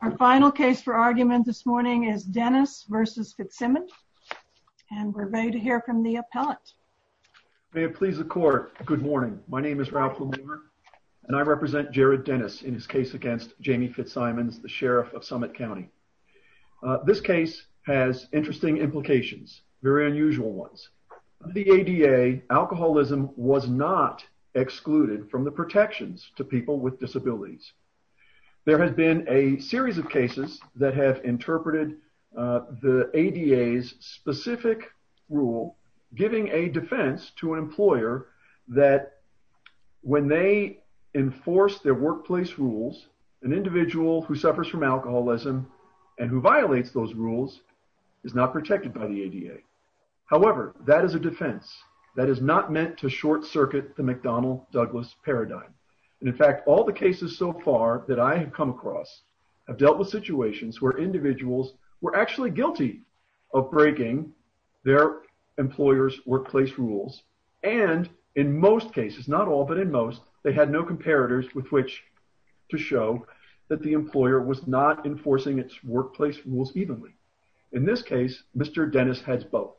Our final case for argument this morning is Dennis v. Fitzsimons, and we're ready to hear from the appellant. May it please the Court, good morning. My name is Ralph LaMoure, and I represent Jared Dennis in his case against Jamie Fitzsimons, the Sheriff of Summit County. This case has interesting implications, very unusual ones. The ADA, alcoholism was not excluded from the protections to people with disabilities. There has been a series of cases that have interpreted the ADA's specific rule, giving a defense to an employer that when they enforce their workplace rules, an individual who suffers from alcoholism and who violates those rules is not protected by the ADA. However, that is a defense. That is not meant to short circuit the McDonnell-Douglas paradigm. In fact, all the cases so far that I have come across have dealt with situations where individuals were actually guilty of breaking their employer's workplace rules, and in most cases, not all, but in most, they had no comparators with which to show that the employer was not enforcing its workplace rules evenly. In this case, Mr. Dennis has both.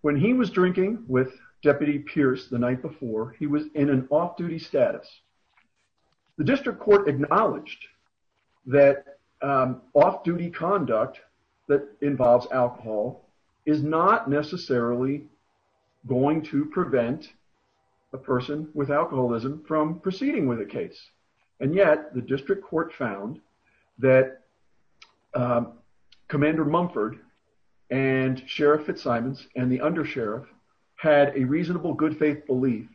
When he was drinking with Deputy Pierce the night before, he was in an off-duty status. The district court acknowledged that off-duty conduct that involves alcohol is not necessarily going to prevent a person with alcoholism from proceeding with a case, and yet the district court found that Commander Mumford and Sheriff Fitzsimons and the undersheriff had a reasonable good faith belief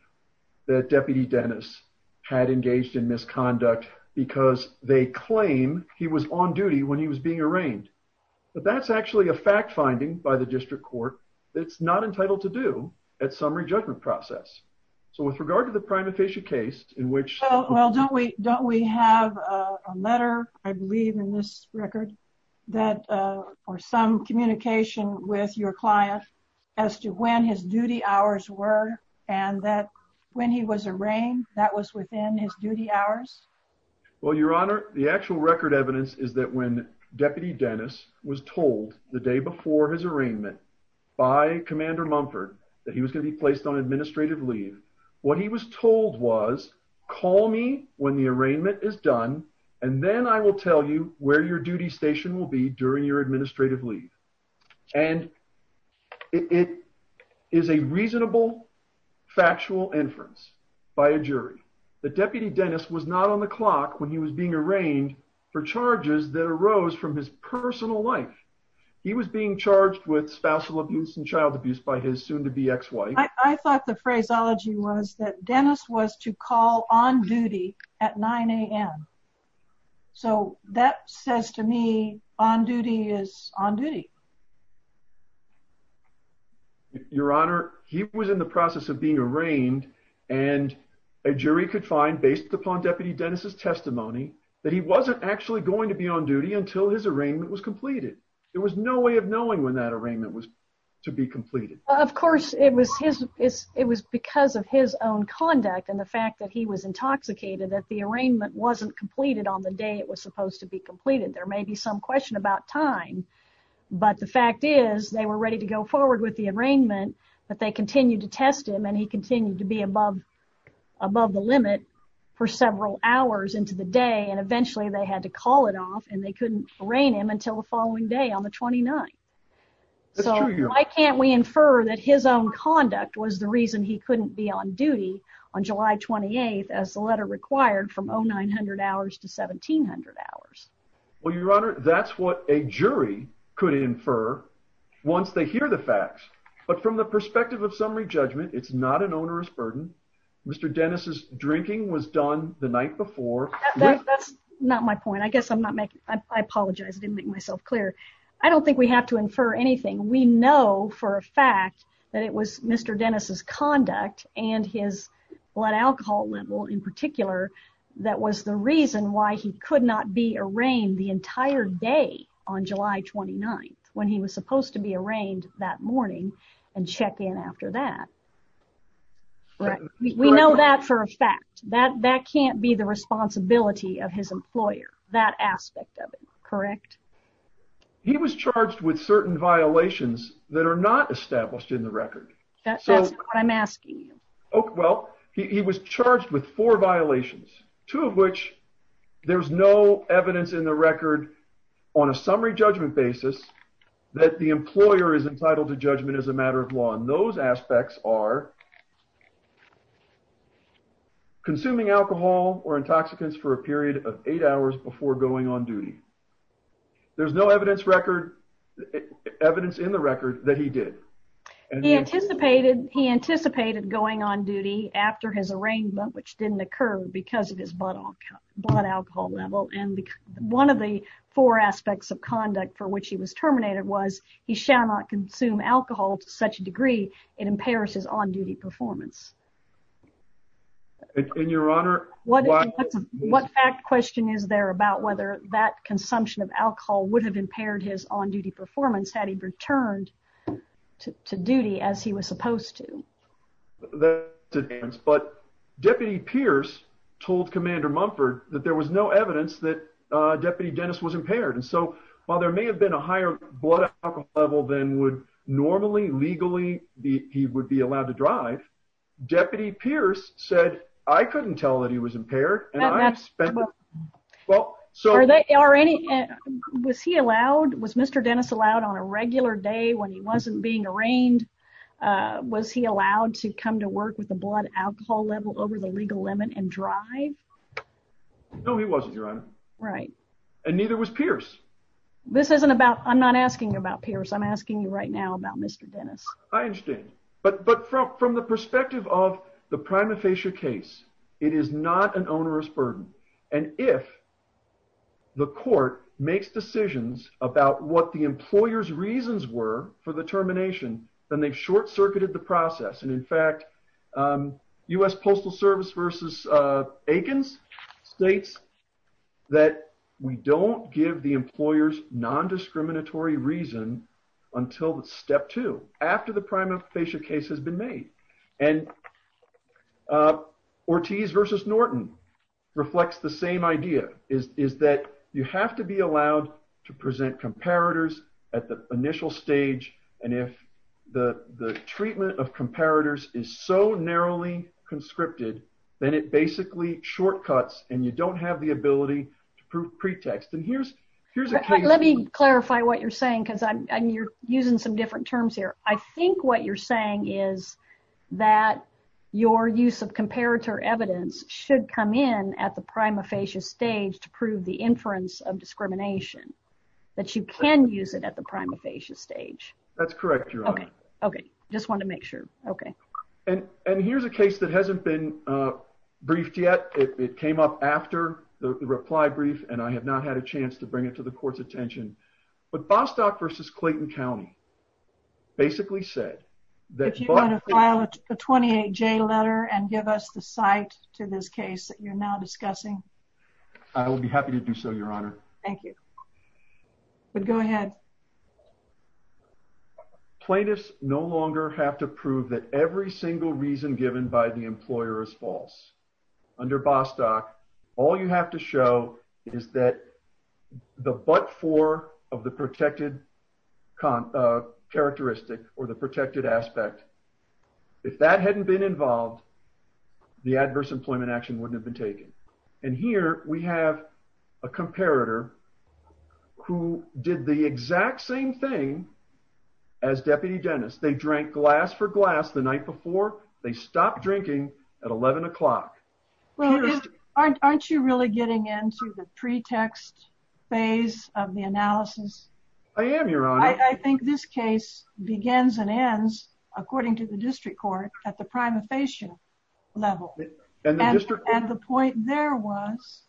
that Deputy Dennis had engaged in misconduct because they claim he was on duty when he was being arraigned. But that's actually a fact finding by the district court that's not entitled to do at summary judgment process. So with regard to the prima facie case in which- Do you have a letter, I believe in this record, that or some communication with your client as to when his duty hours were and that when he was arraigned, that was within his duty hours? Well, Your Honor, the actual record evidence is that when Deputy Dennis was told the day before his arraignment by Commander Mumford that he was going to be placed on administrative leave, what he was told was, call me when the arraignment is done, and then I will tell you where your duty station will be during your administrative leave. And it is a reasonable, factual inference by a jury that Deputy Dennis was not on the clock when he was being arraigned for charges that arose from his personal life. He was being charged with spousal abuse and child abuse by his soon-to-be ex-wife. I thought the phraseology was that Dennis was to call on duty at 9 a.m. So that says to me, on duty is on duty. Your Honor, he was in the process of being arraigned and a jury could find, based upon Deputy Dennis's testimony, that he wasn't actually going to be on duty until his arraignment was completed. There was no way of knowing when that arraignment was to be completed. Of course, it was because of his own conduct and the fact that he was intoxicated that the arraignment wasn't completed on the day it was supposed to be completed. There may be some question about time, but the fact is, they were ready to go forward with the arraignment, but they continued to test him and he continued to be above the limit for several hours into the day and eventually they had to call it off and they couldn't arraign him until the following day on the 29th. So, why can't we infer that his own conduct was the reason he couldn't be on duty on July 28th as the letter required from 0900 hours to 1700 hours? Well, Your Honor, that's what a jury could infer once they hear the facts, but from the perspective of summary judgment, it's not an onerous burden. Mr. Dennis's drinking was done the night before. That's not my point. I guess I'm not making, I apologize, I didn't make myself clear. I don't think we have to infer anything. We know for a fact that it was Mr. Dennis's conduct and his blood alcohol level in particular that was the reason why he could not be arraigned the entire day on July 29th when he was supposed to be arraigned that morning and check in after that. We know that for a fact. That can't be the responsibility of his employer, that aspect of it, correct? He was charged with certain violations that are not established in the record. That's not what I'm asking you. Well, he was charged with four violations, two of which there's no evidence in the record on a summary judgment basis that the employer is entitled to judgment as a matter of law and those aspects are consuming alcohol or intoxicants for a period of eight hours before going on duty. There's no evidence record, evidence in the record that he did. He anticipated going on duty after his arraignment, which didn't occur because of his blood alcohol level and one of the four aspects of conduct for which he was terminated was he shall not consume alcohol to such a degree it impairs his on-duty performance. In your honor... What fact question is there about whether that consumption of alcohol would have impaired his on-duty performance had he returned to duty as he was supposed to? But Deputy Pierce told Commander Mumford that there was no evidence that Deputy Dennis was normally, legally, he would be allowed to drive. Deputy Pierce said, I couldn't tell that he was impaired and I have spent... Was he allowed? Was Mr. Dennis allowed on a regular day when he wasn't being arraigned? Was he allowed to come to work with a blood alcohol level over the legal limit and drive? No, he wasn't, your honor. And neither was Pierce. This isn't about... I'm not asking about Pierce. I'm asking you right now about Mr. Dennis. I understand. But from the perspective of the prima facie case, it is not an onerous burden. And if the court makes decisions about what the employer's reasons were for the termination, then they've short-circuited the process. And in fact, US Postal Service versus Akins states that we don't give the employer's non-discriminatory reason until step two, after the prima facie case has been made. And Ortiz versus Norton reflects the same idea, is that you have to be allowed to present comparators at the initial stage. And if the treatment of comparators is so narrowly conscripted, then it basically shortcuts and you don't have the ability to prove pretext. And here's a case- What you're saying, because you're using some different terms here. I think what you're saying is that your use of comparator evidence should come in at the prima facie stage to prove the inference of discrimination, that you can use it at the prima facie stage. That's correct, your honor. Okay. Okay. Just wanted to make sure. Okay. And here's a case that hasn't been briefed yet. It came up after the reply brief, and I have not had a chance to bring it to the court's attention. But Bostock versus Clayton County basically said that- If you want to file a 28J letter and give us the site to this case that you're now discussing. I will be happy to do so, your honor. Thank you. But go ahead. Plaintiffs no longer have to prove that every single reason given by the employer is false. Under Bostock, all you have to show is that the but-for of the protected characteristic or the protected aspect. If that hadn't been involved, the adverse employment action wouldn't have been taken. And here we have a comparator who did the exact same thing as Deputy Dennis. They drank glass for glass the night before. They stopped drinking at 11 o'clock. Aren't you really getting into the pretext phase of the analysis? I am, your honor. I think this case begins and ends, according to the district court, at the prima facie level. And the point there was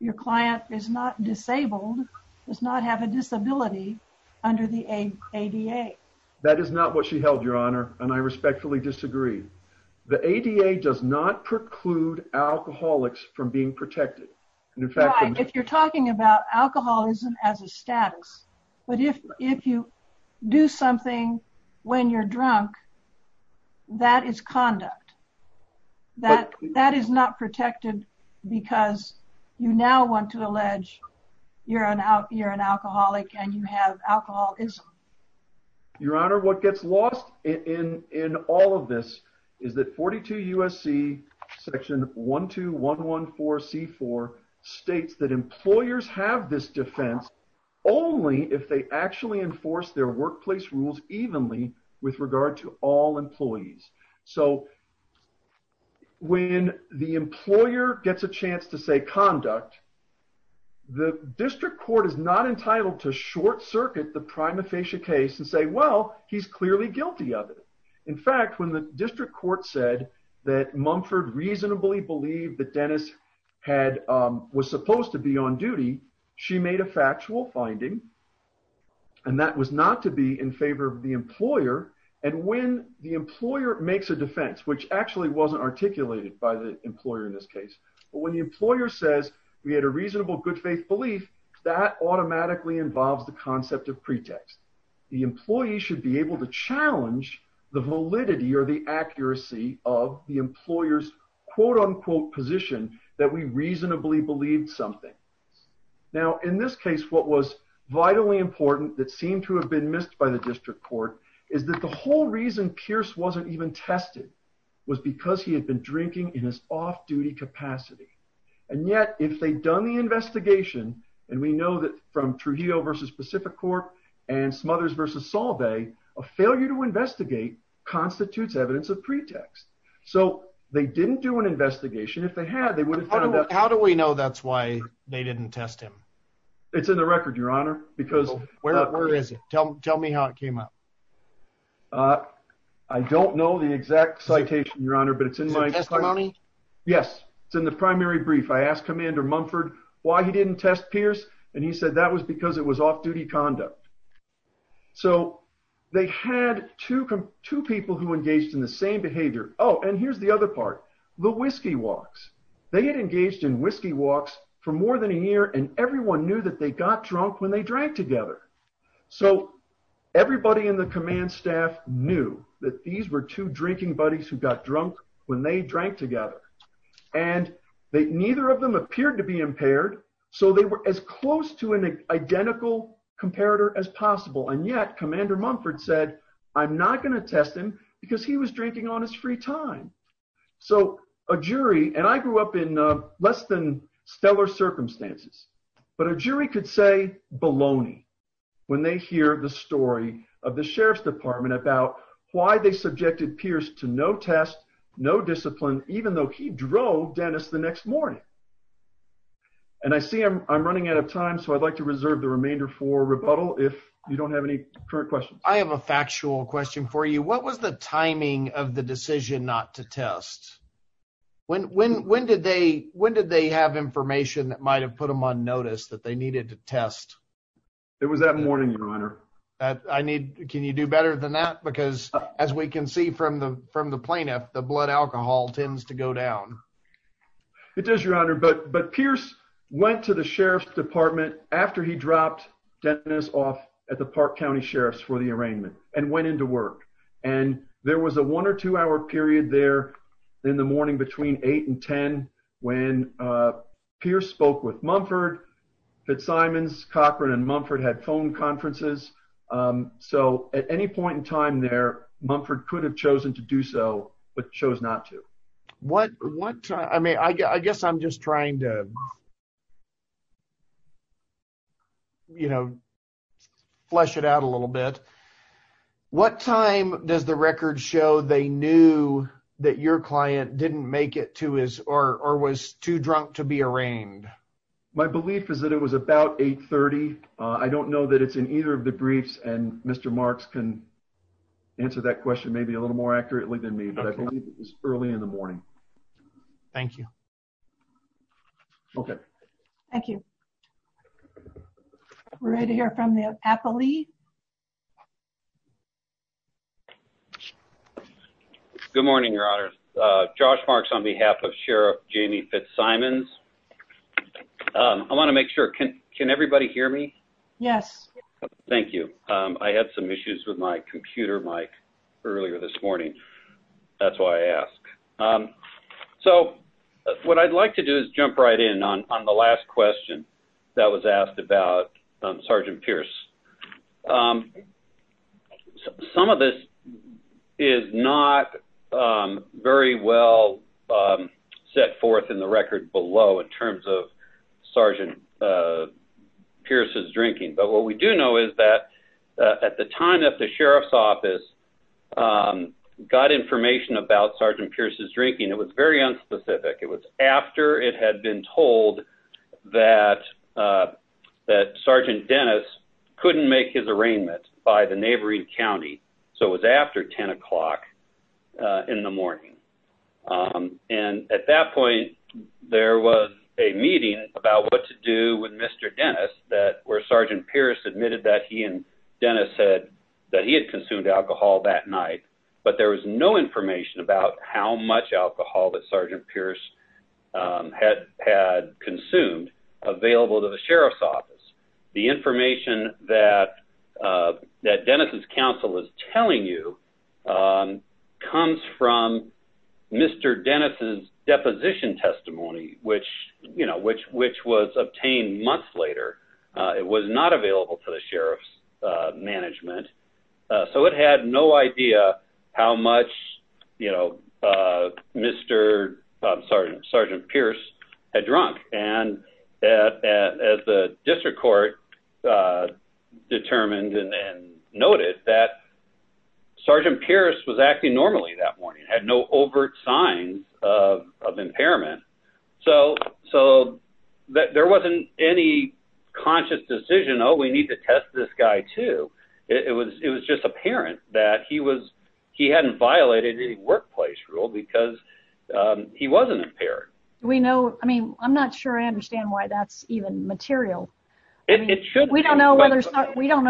your client is not disabled, does not have a disability under the ADA. That is not what she held, your honor. And I respectfully disagree. The ADA does not preclude alcoholics from being protected. If you're talking about alcoholism as a status, but if you do something when you're drunk, that is conduct. That is not protected because you now want to allege you're an alcoholic and you have alcoholism. Your honor, what gets lost in all of this is that 42 USC section 12114C4 states that employers have this defense only if they actually enforce their workplace rules evenly with regard to all employees. So when the employer gets a chance to say conduct, the district court is not entitled to short circuit the prima facie case and say, well, he's clearly guilty of it. In fact, when the district court said that Mumford reasonably believed that Dennis was supposed to be on duty, she made a factual finding. And that was not to be in favor of the employer. And when the employer makes a defense, which actually wasn't articulated by the employer in this case, but when the employer says we had a reasonable good faith belief, that automatically involves the concept of pretext. The employee should be able to challenge the validity or the accuracy of the employer's quote unquote position that we reasonably believed something. Now in this case, what was vitally important that seemed to have been missed by the district court is that the whole reason Pierce wasn't even tested was because he had been drinking in his off duty capacity. And yet if they'd done the investigation, and we know that from Trujillo versus Pacific Corp and Smothers versus Solvay, a failure to investigate constitutes evidence of pretext. So they didn't do an investigation. If they had, they would have found out. How do we know that's why they didn't test him? It's in the record, your honor, because where is it? Tell me how it came up. I don't know the exact citation, your honor, but it's in my testimony. Yes. It's in the primary brief. I asked Commander Mumford why he didn't test Pierce, and he said that was because it was off duty conduct. So they had two people who engaged in the same behavior. Oh, and here's the other part. The whiskey walks. They had engaged in whiskey walks for more than a year, and everyone knew that they got drunk when they drank together. So everybody in the command staff knew that these were two drinking buddies who got drunk when they drank together, and neither of them appeared to be impaired. So they were as close to an identical comparator as possible, and yet Commander Mumford said, I'm not going to test him because he was drinking on his free time. So a jury, and I grew up in less than stellar circumstances, but a jury could say baloney when they hear the story of the sheriff's department about why they subjected Pierce to no test, no discipline, even though he drove Dennis the next morning. And I see I'm running out of time, so I'd like to reserve the remainder for rebuttal if you don't have any current questions. I have a factual question for you. What was the timing of the decision not to test? When did they have information that might have put them on notice that they needed to test? It was that morning, Your Honor. Can you do better than that? Because as we can see from the plaintiff, the blood alcohol tends to go down. It does, Your Honor. But Pierce went to the sheriff's department after he dropped Dennis off at the Park County Sheriff's for the arraignment and went into work. And there was a one or two hour period there in the morning between 8 and 10 when Pierce spoke with Mumford. Fitzsimons, Cochran, and Mumford had phone conferences. So at any point in time there, Mumford could have chosen to do so, but chose not to. I mean, I guess I'm just trying to, you know, flesh it out a little bit. What time does the record show they knew that your client didn't make it to his or was too late? My belief is that it was about 8.30. I don't know that it's in either of the briefs and Mr. Marks can answer that question maybe a little more accurately than me, but I believe it was early in the morning. Thank you. Okay. Thank you. We're ready to hear from the appellee. Good morning, Your Honor. Josh Marks on behalf of Sheriff Jamie Fitzsimons. I want to make sure, can everybody hear me? Yes. Thank you. I had some issues with my computer mic earlier this morning. That's why I asked. So what I'd like to do is jump right in on the last question that was asked about Sergeant Pierce. Some of this is not very well set forth in the record below in terms of Sergeant Pierce's drinking, but what we do know is that at the time that the Sheriff's office got information about Sergeant Pierce's drinking, it was very unspecific. It was after it had been told that Sergeant Dennis couldn't make his arraignment by the neighboring county. So it was after 10 o'clock in the morning. And at that point, there was a meeting about what to do with Mr. Dennis where Sergeant Pierce admitted that he and Dennis said that he had consumed alcohol that night, but there was no information about how much alcohol that Sergeant Pierce had consumed available to the Sheriff's office. The information that Dennis's counsel is telling you comes from Mr. Dennis's deposition testimony, which was obtained months later. It was not available to the Sheriff's management. So it had no idea how much, you know, Mr. Sergeant Pierce had drunk. And as the district court determined and noted that Sergeant Pierce was acting normally that morning, had no overt signs of impairment. So there wasn't any conscious decision, oh, we need to test this guy too. It was just apparent that he hadn't violated any workplace rule because he wasn't impaired. Do we know, I mean, I'm not sure I understand why that's even material. It should be. We don't know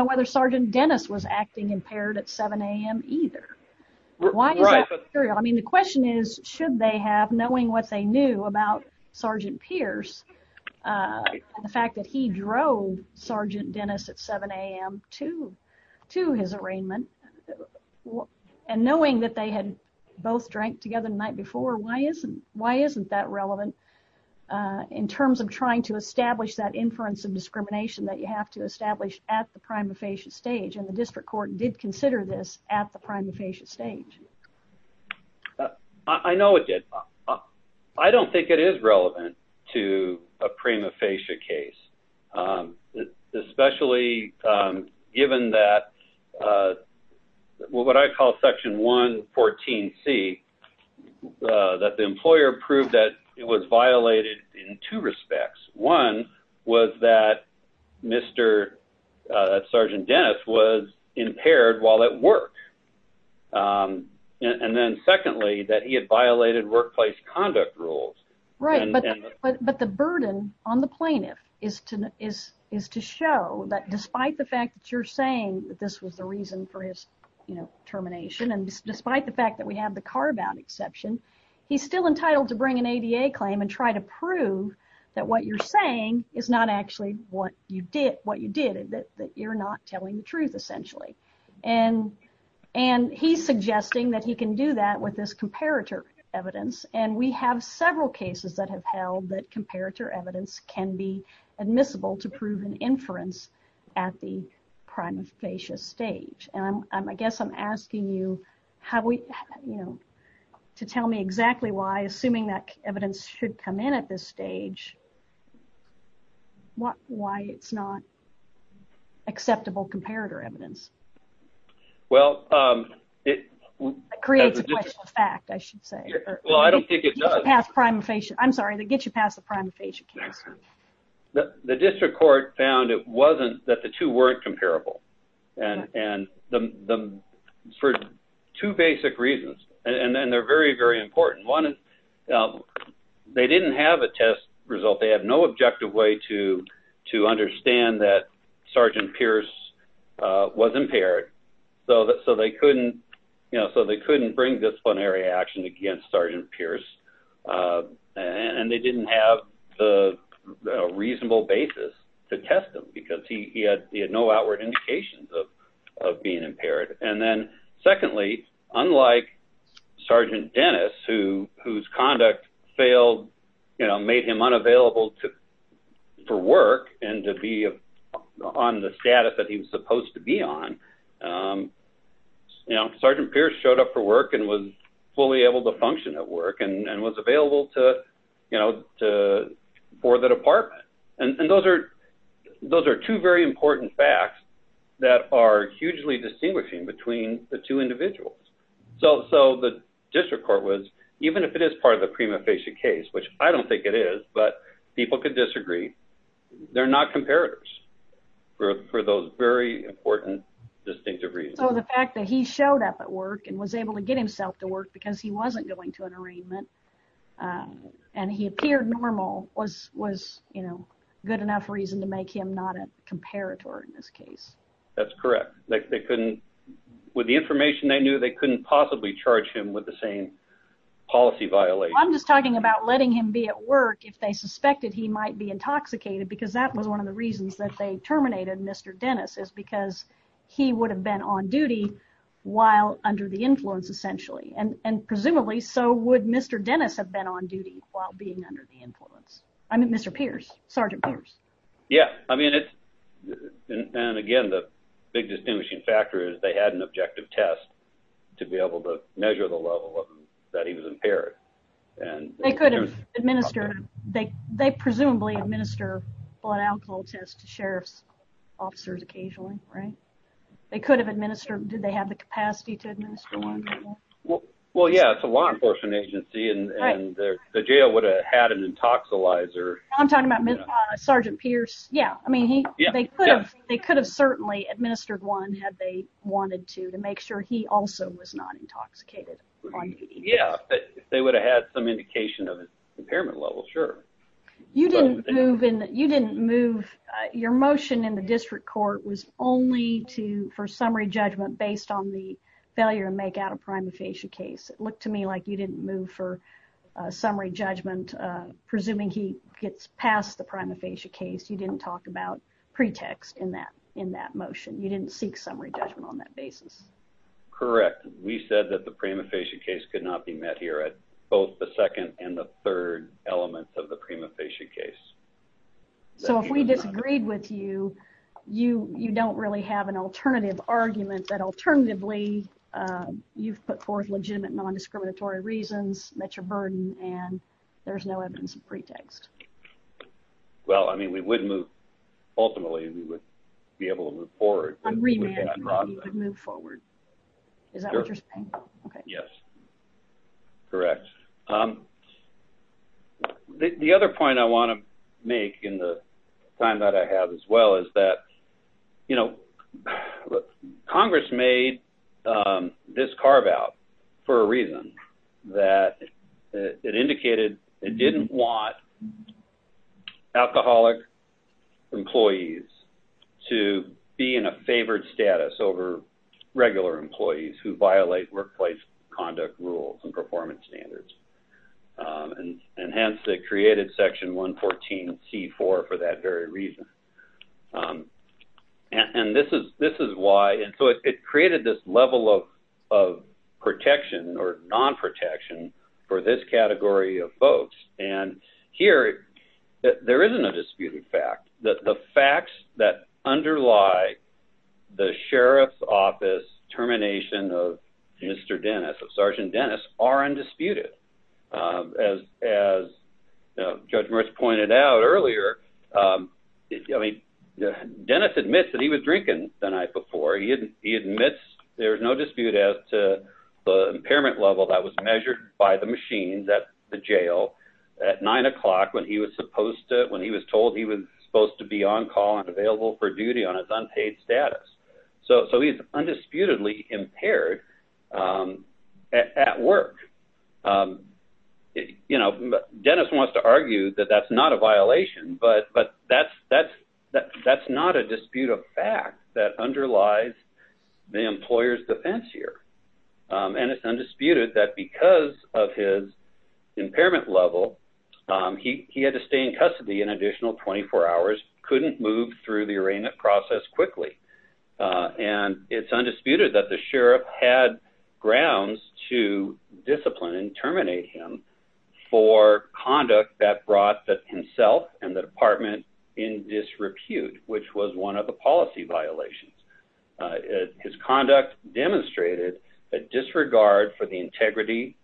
whether Sergeant Dennis was acting impaired at 7 a.m. either. Why is that material? I mean, the question is, should they have, knowing what they knew about Sergeant Pierce, the fact that he drove Sergeant Dennis at 7 a.m. to his arraignment, and knowing that they had both drank together the night before, why isn't that relevant in terms of trying to establish that inference of discrimination that you have to establish at the prima facie stage? And the district court did consider this at the prima facie stage. I know it did. I don't think it is relevant to a prima facie case, especially given that what I call Section 114C, that the employer proved that it was violated in two respects. One was that Mr. Sergeant Dennis was impaired while at work. And then secondly, that he had violated workplace conduct rules. Right, but the burden on the plaintiff is to show that despite the fact that you're saying that this was the reason for his termination, and despite the fact that we have the car-bound exception, he's still entitled to bring an ADA claim and try to prove that what you're saying is not actually what you did, that you're not telling the truth, essentially. And he's suggesting that he can do that with this comparator evidence. And we have several cases that have held that comparator evidence can be admissible to prove an inference at the prima facie stage. And I guess I'm asking you to tell me exactly why, assuming that evidence should come in at this stage, why it's not acceptable comparator evidence. Well, it creates a question of fact, I should say. Well, I don't think it does. I'm sorry, to get you past the prima facie case. The district court found it wasn't that the two weren't comparable. And for two basic reasons, and they're very, very important. One, they didn't have a test result. They had no objective way to understand that Sergeant Pierce was impaired. So they couldn't bring disciplinary action against Sergeant Pierce. And they didn't have a reasonable basis to test him because he had no outward indications of being impaired. And then secondly, unlike Sergeant Dennis, whose conduct failed, you know, made him unavailable for work and to be on the status that he was supposed to be on, you know, Sergeant Pierce showed up for work and was fully able to function at work and was available to, you know, for the department. And those are two very important facts that are hugely distinguishing between the two individuals. So the district court was, even if it is part of the prima facie case, which I don't think it is, but people could disagree, they're not comparators for those very important distinctive reasons. So the fact that he showed up at work and was able to get himself to work because he wasn't going to an arraignment and he appeared normal was, you know, good enough reason to make him not a comparator in this case. That's correct. They couldn't, with the information they knew, they couldn't possibly charge him with the same policy violation. I'm just talking about letting him be at work if they suspected he might be intoxicated because that was one of the reasons that they terminated Mr. Dennis, is because he would have been on duty while under the influence essentially. And presumably so would Mr. Dennis have been on duty while being under the influence. I mean, Mr. Pierce, Sergeant Pierce. Yeah, I mean, and again, the big distinguishing factor is they had an objective test to be able to measure the level that he was impaired. They presumably administer blood alcohol tests to sheriff's officers occasionally, right? They could have administered, did they have the capacity to administer one? Well, yeah, it's a law enforcement agency and the jail would have had an intoxilizer. I'm talking about Sergeant Pierce. Yeah, I mean, they could have certainly administered one had they wanted to to make sure he also was not intoxicated. Yeah, but they would have had some indication of impairment level, sure. You didn't move, your motion in the district court was only for summary judgment based on the failure to make out a prima facie case. It looked to me like you didn't move for summary judgment. Presuming he gets past the prima facie case, you didn't talk about pretext in that motion. You didn't seek summary judgment on that basis. Correct. We said that the prima facie case could not be met here at both the second and the third elements of the prima facie case. So if we disagreed with you, you don't really have an alternative argument that alternatively you've put forth legitimate nondiscriminatory reasons, met your burden, and there's no evidence of pretext. Well, I mean, we would move, ultimately we would be able to move forward. On remand, you could move forward. Is that what you're saying? Yes. Correct. The other point I want to make in the time that I have as well is that, you know, Congress made this carve out for a reason that it indicated it didn't want alcoholic employees to be in a favored status over regular employees who violate workplace conduct rules and performance standards. And hence, they created Section 114C-4 for that very reason. And this is why. And so it created this level of protection or non-protection for this category of folks. And here, there isn't a disputed fact that the facts that underlie the sheriff's office termination of Mr. Dennis, of Sergeant Dennis, are undisputed. As Judge Merce pointed out earlier, I mean, Dennis admits that he was drinking the night before. He admits there's no dispute as to the impairment level that was measured by the machines at the jail at 9 o'clock when he was told he was supposed to be on call and available for duty on his unpaid status. So he's undisputedly impaired at work. You know, Dennis wants to argue that that's not a violation, but that's not a disputed fact that underlies the employer's defense here. And it's undisputed that because of his impairment level, he had to stay in custody an additional 24 hours, couldn't move through the arraignment process quickly. And it's undisputed that the sheriff had grounds to discipline and terminate him for conduct that brought himself and the department in disrepute, which was one of the policy violations. His conduct demonstrated a disregard for the integrity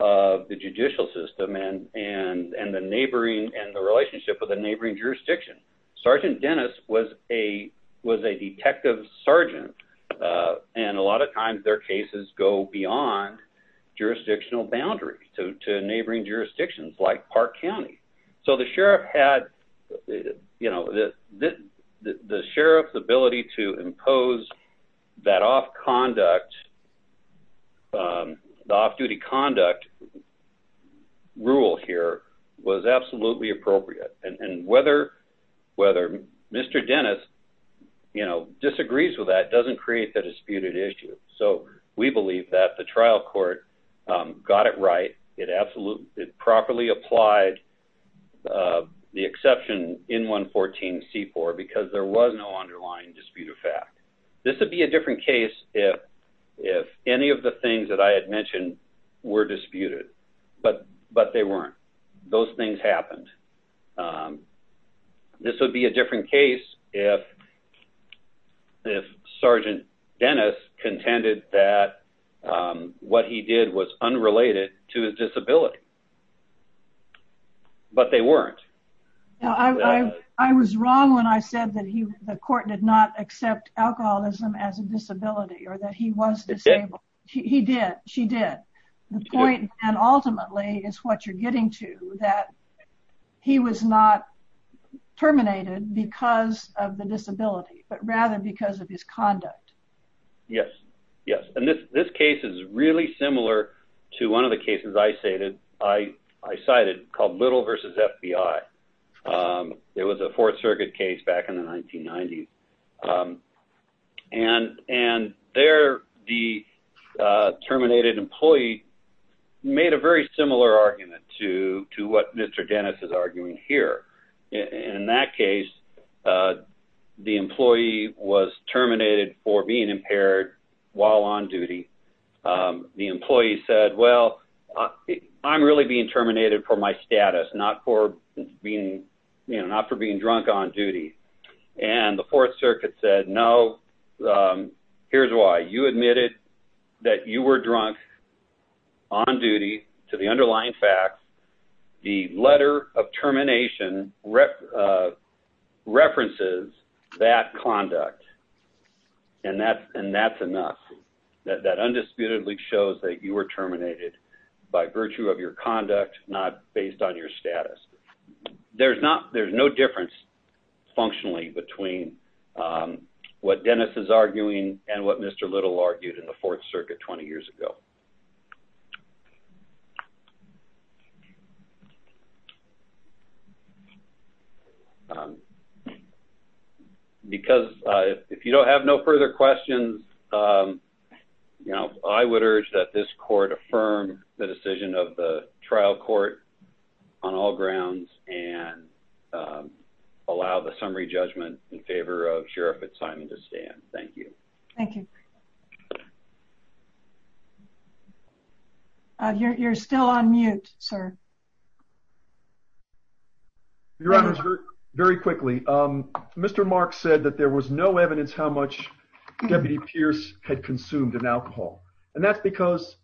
of the judicial system and the neighboring and the relationship with the neighboring jurisdiction. Sergeant Dennis was a detective sergeant, and a lot of times their cases go beyond jurisdictional boundaries to neighboring jurisdictions like Park County. So the sheriff had, you know, the sheriff's ability to impose that off-conduct, the off-duty conduct rule here was absolutely appropriate. And whether Mr. Dennis, you know, disagrees with that doesn't create the disputed issue. So we believe that the trial court got it right. It properly applied the exception in 114C4 because there was no underlying disputed fact. This would be a different case if any of the things that I had mentioned were disputed, but they weren't. Those things happened. This would be a different case if Sergeant Dennis contended that what he did was unrelated to his disability. But they weren't. I was wrong when I said that the court did not accept alcoholism as a disability or that he was disabled. He did. She did. The point then ultimately is what you're getting to, that he was not terminated because of the disability, but rather because of his conduct. Yes. Yes. And this case is really similar to one of the cases I cited called Little v. FBI. It was a Fourth Circuit case back in the 1990s. And there the terminated employee made a very similar argument to what Mr. Dennis is arguing here. In that case, the employee was terminated for being impaired while on duty. The employee said, well, I'm really being terminated for my status, not for being drunk on duty. And the Fourth Circuit said, no, here's why. You admitted that you were drunk on duty to the underlying facts. The letter of termination references that conduct. And that's enough. That undisputedly shows that you were terminated by virtue of your conduct, not based on your status. There's no difference functionally between what Dennis is arguing and what Mr. Little argued in the Fourth Circuit 20 years ago. Because if you don't have no further questions, I would urge that this court affirm the decision of the trial court on all grounds and allow the summary judgment in favor of Sheriff Fitzsimons to stand. Thank you. Thank you. You're still on mute, sir. Very quickly. Mr. Mark said that there was no evidence how much Deputy Pierce had consumed an alcohol. And that's because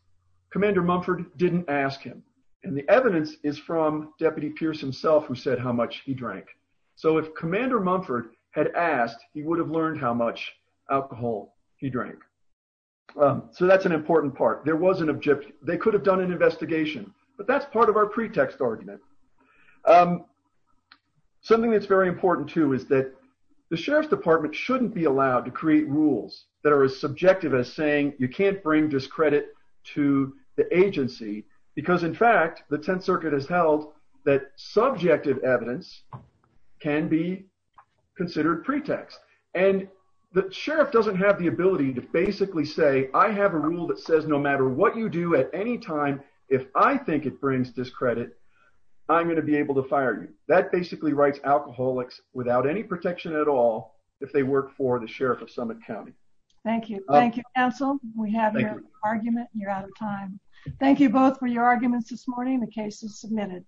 Commander Mumford didn't ask him. And the evidence is from Deputy Pierce himself who said how much he drank. So if Commander Mumford had asked, he would have learned how much alcohol he drank. So that's an important part. There was an objective. They could have done an investigation. But that's part of our pretext argument. Something that's very important, too, is that the Sheriff's Department shouldn't be allowed to create rules that are as subjective as saying you can't bring discredit to the agency. Because, in fact, the Tenth Circuit has held that subjective evidence can be considered pretext. And the Sheriff doesn't have the ability to basically say I have a rule that says no matter what you do at any time, if I think it brings discredit, I'm going to be able to fire you. That basically writes alcoholics without any protection at all if they work for the Sheriff of Summit County. Thank you. Thank you, counsel. We have your argument. You're out of time. Thank you both for your arguments this morning. The case is submitted.